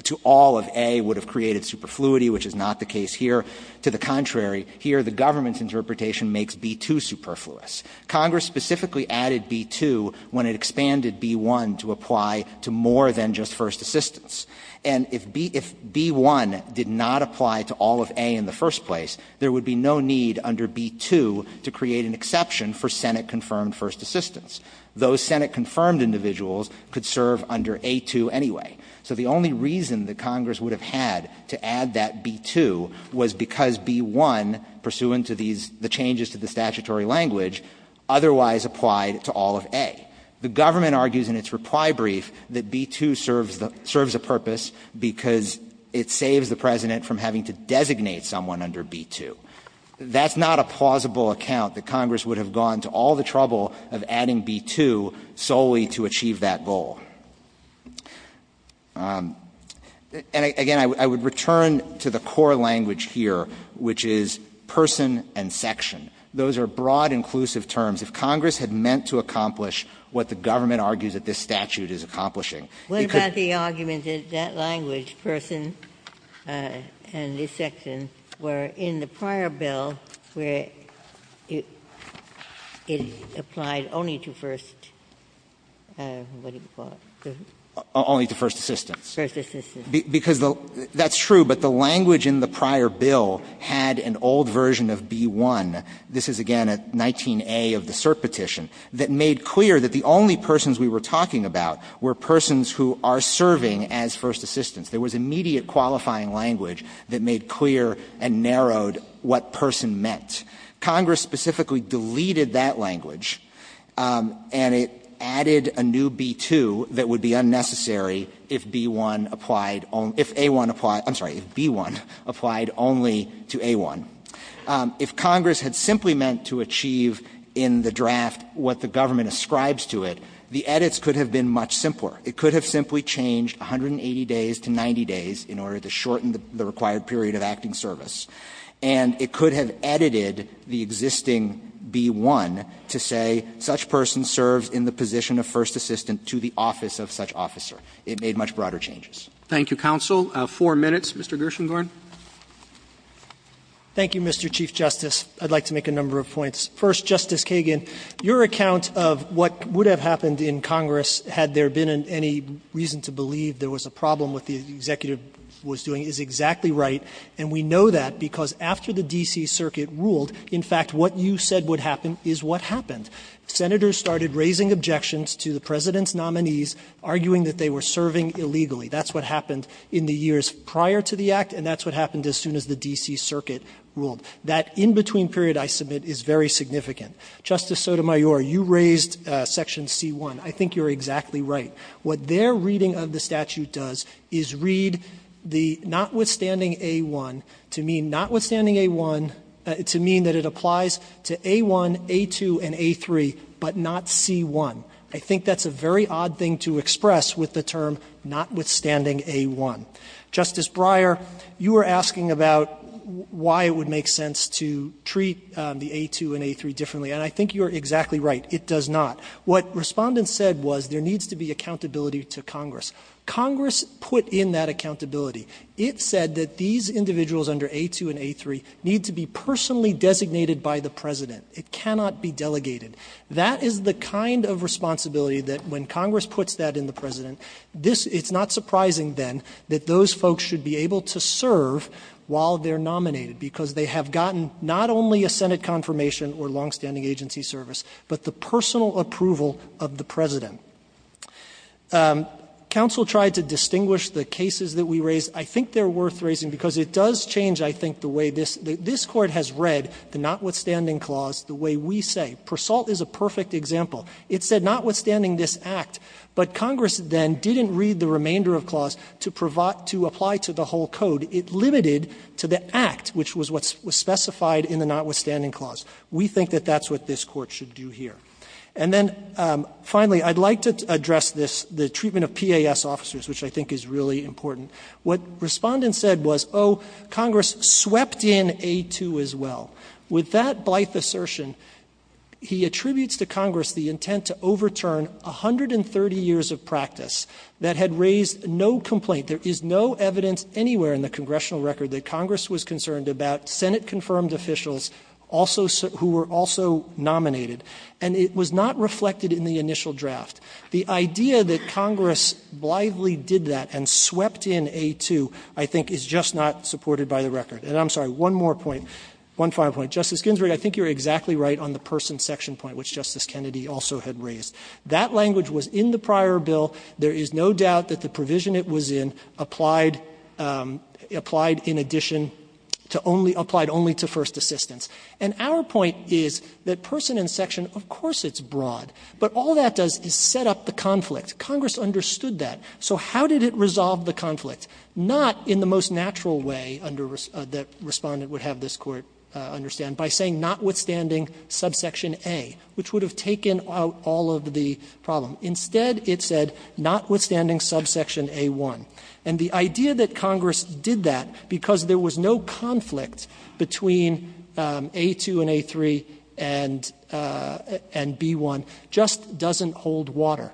to all of A would have created superfluity, which is not the case here. To the contrary, here the government's interpretation makes B too superfluous. Congress specifically added B-2 when it expanded B-1 to apply to more than just first assistance. And if B-1 did not apply to all of A in the first place, there would be no need under B-2 to create an exception for Senate-confirmed first assistance. Those Senate-confirmed individuals could serve under A-2 anyway. So the only reason that Congress would have had to add that B-2 was because B-1, pursuant to these changes to the statutory language, otherwise applied to all of A. The government argues in its reply brief that B-2 serves a purpose because it saves the President from having to designate someone under B-2. That's not a plausible account that Congress would have gone to all the trouble of adding B-2 solely to achieve that goal. And, again, I would return to the core language here, which is that the State language is person and section. Those are broad, inclusive terms. If Congress had meant to accomplish what the government argues that this statute is accomplishing, it could be. Ginsburg. What about the argument that that language, person and this section, were in the prior bill where it applied only to first, what do you call it? Only to first assistance. First assistance. Because that's true, but the language in the prior bill had an old version of B-1. This is, again, at 19A of the cert petition, that made clear that the only persons we were talking about were persons who are serving as first assistance. There was immediate qualifying language that made clear and narrowed what person meant. Congress specifically deleted that language, and it added a new B-2 that would be unnecessary if B-1 applied only to A-1. If Congress had simply meant to achieve in the draft what the government ascribes to it, the edits could have been much simpler. It could have simply changed 180 days to 90 days in order to shorten the required period of acting service. And it could have edited the existing B-1 to say such person serves in the position of first assistant to the office of such officer. It made much broader changes. Roberts. Thank you, counsel. Four minutes. Mr. Gershengorn. Thank you, Mr. Chief Justice. I'd like to make a number of points. First, Justice Kagan, your account of what would have happened in Congress had there been any reason to believe there was a problem with what the executive was doing is exactly right. And we know that because after the D.C. Circuit ruled, in fact, what you said would happen is what happened. Senators started raising objections to the President's nominees, arguing that they were serving illegally. That's what happened in the years prior to the Act, and that's what happened as soon as the D.C. Circuit ruled. That in-between period, I submit, is very significant. Justice Sotomayor, you raised Section C-1. I think you're exactly right. What their reading of the statute does is read the notwithstanding A-1 to mean notwithstanding A-1 to mean that it applies to A-1, A-2, and A-3, but not C-1. I think that's a very odd thing to express with the term notwithstanding A-1. Justice Breyer, you were asking about why it would make sense to treat the A-2 and A-3 differently, and I think you're exactly right. It does not. What Respondent said was there needs to be accountability to Congress. Congress put in that accountability. It said that these individuals under A-2 and A-3 need to be personally designated by the President. It cannot be delegated. That is the kind of responsibility that when Congress puts that in the President, this — it's not surprising, then, that those folks should be able to serve while they're nominated, because they have gotten not only a Senate confirmation or longstanding agency service, but the personal approval of the President. Counsel tried to distinguish the cases that we raised. I think they're worth raising, because it does change, I think, the way this — this Court has read the notwithstanding clause the way we say. Persault is a perfect example. It said notwithstanding this Act, but Congress then didn't read the remainder of clause to provide — to apply to the whole code. It limited to the Act, which was what was specified in the notwithstanding clause. We think that that's what this Court should do here. And then, finally, I'd like to address this — the treatment of PAS officers, which I think is really important. What Respondent said was, oh, Congress swept in A-2 as well. With that blithe assertion, he attributes to Congress the intent to overturn 130 years of practice that had raised no complaint. There is no evidence anywhere in the congressional record that Congress was concerned about Senate-confirmed officials also — who were also nominated. And it was not reflected in the initial draft. The idea that Congress blithely did that and swept in A-2, I think, is just not supported by the record. And I'm sorry, one more point, one final point. Justice Ginsburg, I think you're exactly right on the person section point, which Justice Kennedy also had raised. That language was in the prior bill. There is no doubt that the provision it was in applied — applied in addition to only — applied only to first assistants. And our point is that person and section, of course it's broad, but all that does is set up the conflict. Congress understood that. So how did it resolve the conflict? Not in the most natural way under — that Respondent would have this Court understand, by saying notwithstanding subsection A, which would have taken out all of the problem. Instead, it said notwithstanding subsection A-1. And the idea that Congress did that because there was no conflict between A-2 and A-3 and — and B-1 just doesn't hold water.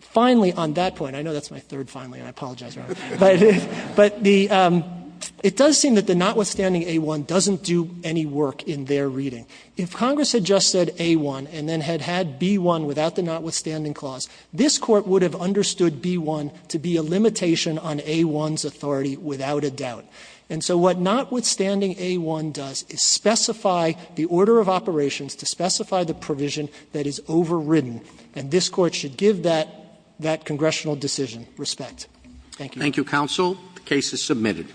Finally, on that point, I know that's my third finally, and I apologize, Your Honor. But the — it does seem that the notwithstanding A-1 doesn't do any work in their reading. If Congress had just said A-1 and then had had B-1 without the notwithstanding clause, this Court would have understood B-1 to be a limitation on A-1's authority without a doubt. And so what notwithstanding A-1 does is specify the order of operations to specify the provision that is overridden. And this Court should give that — that congressional decision respect. Thank you. Roberts. Thank you, counsel. The case is submitted.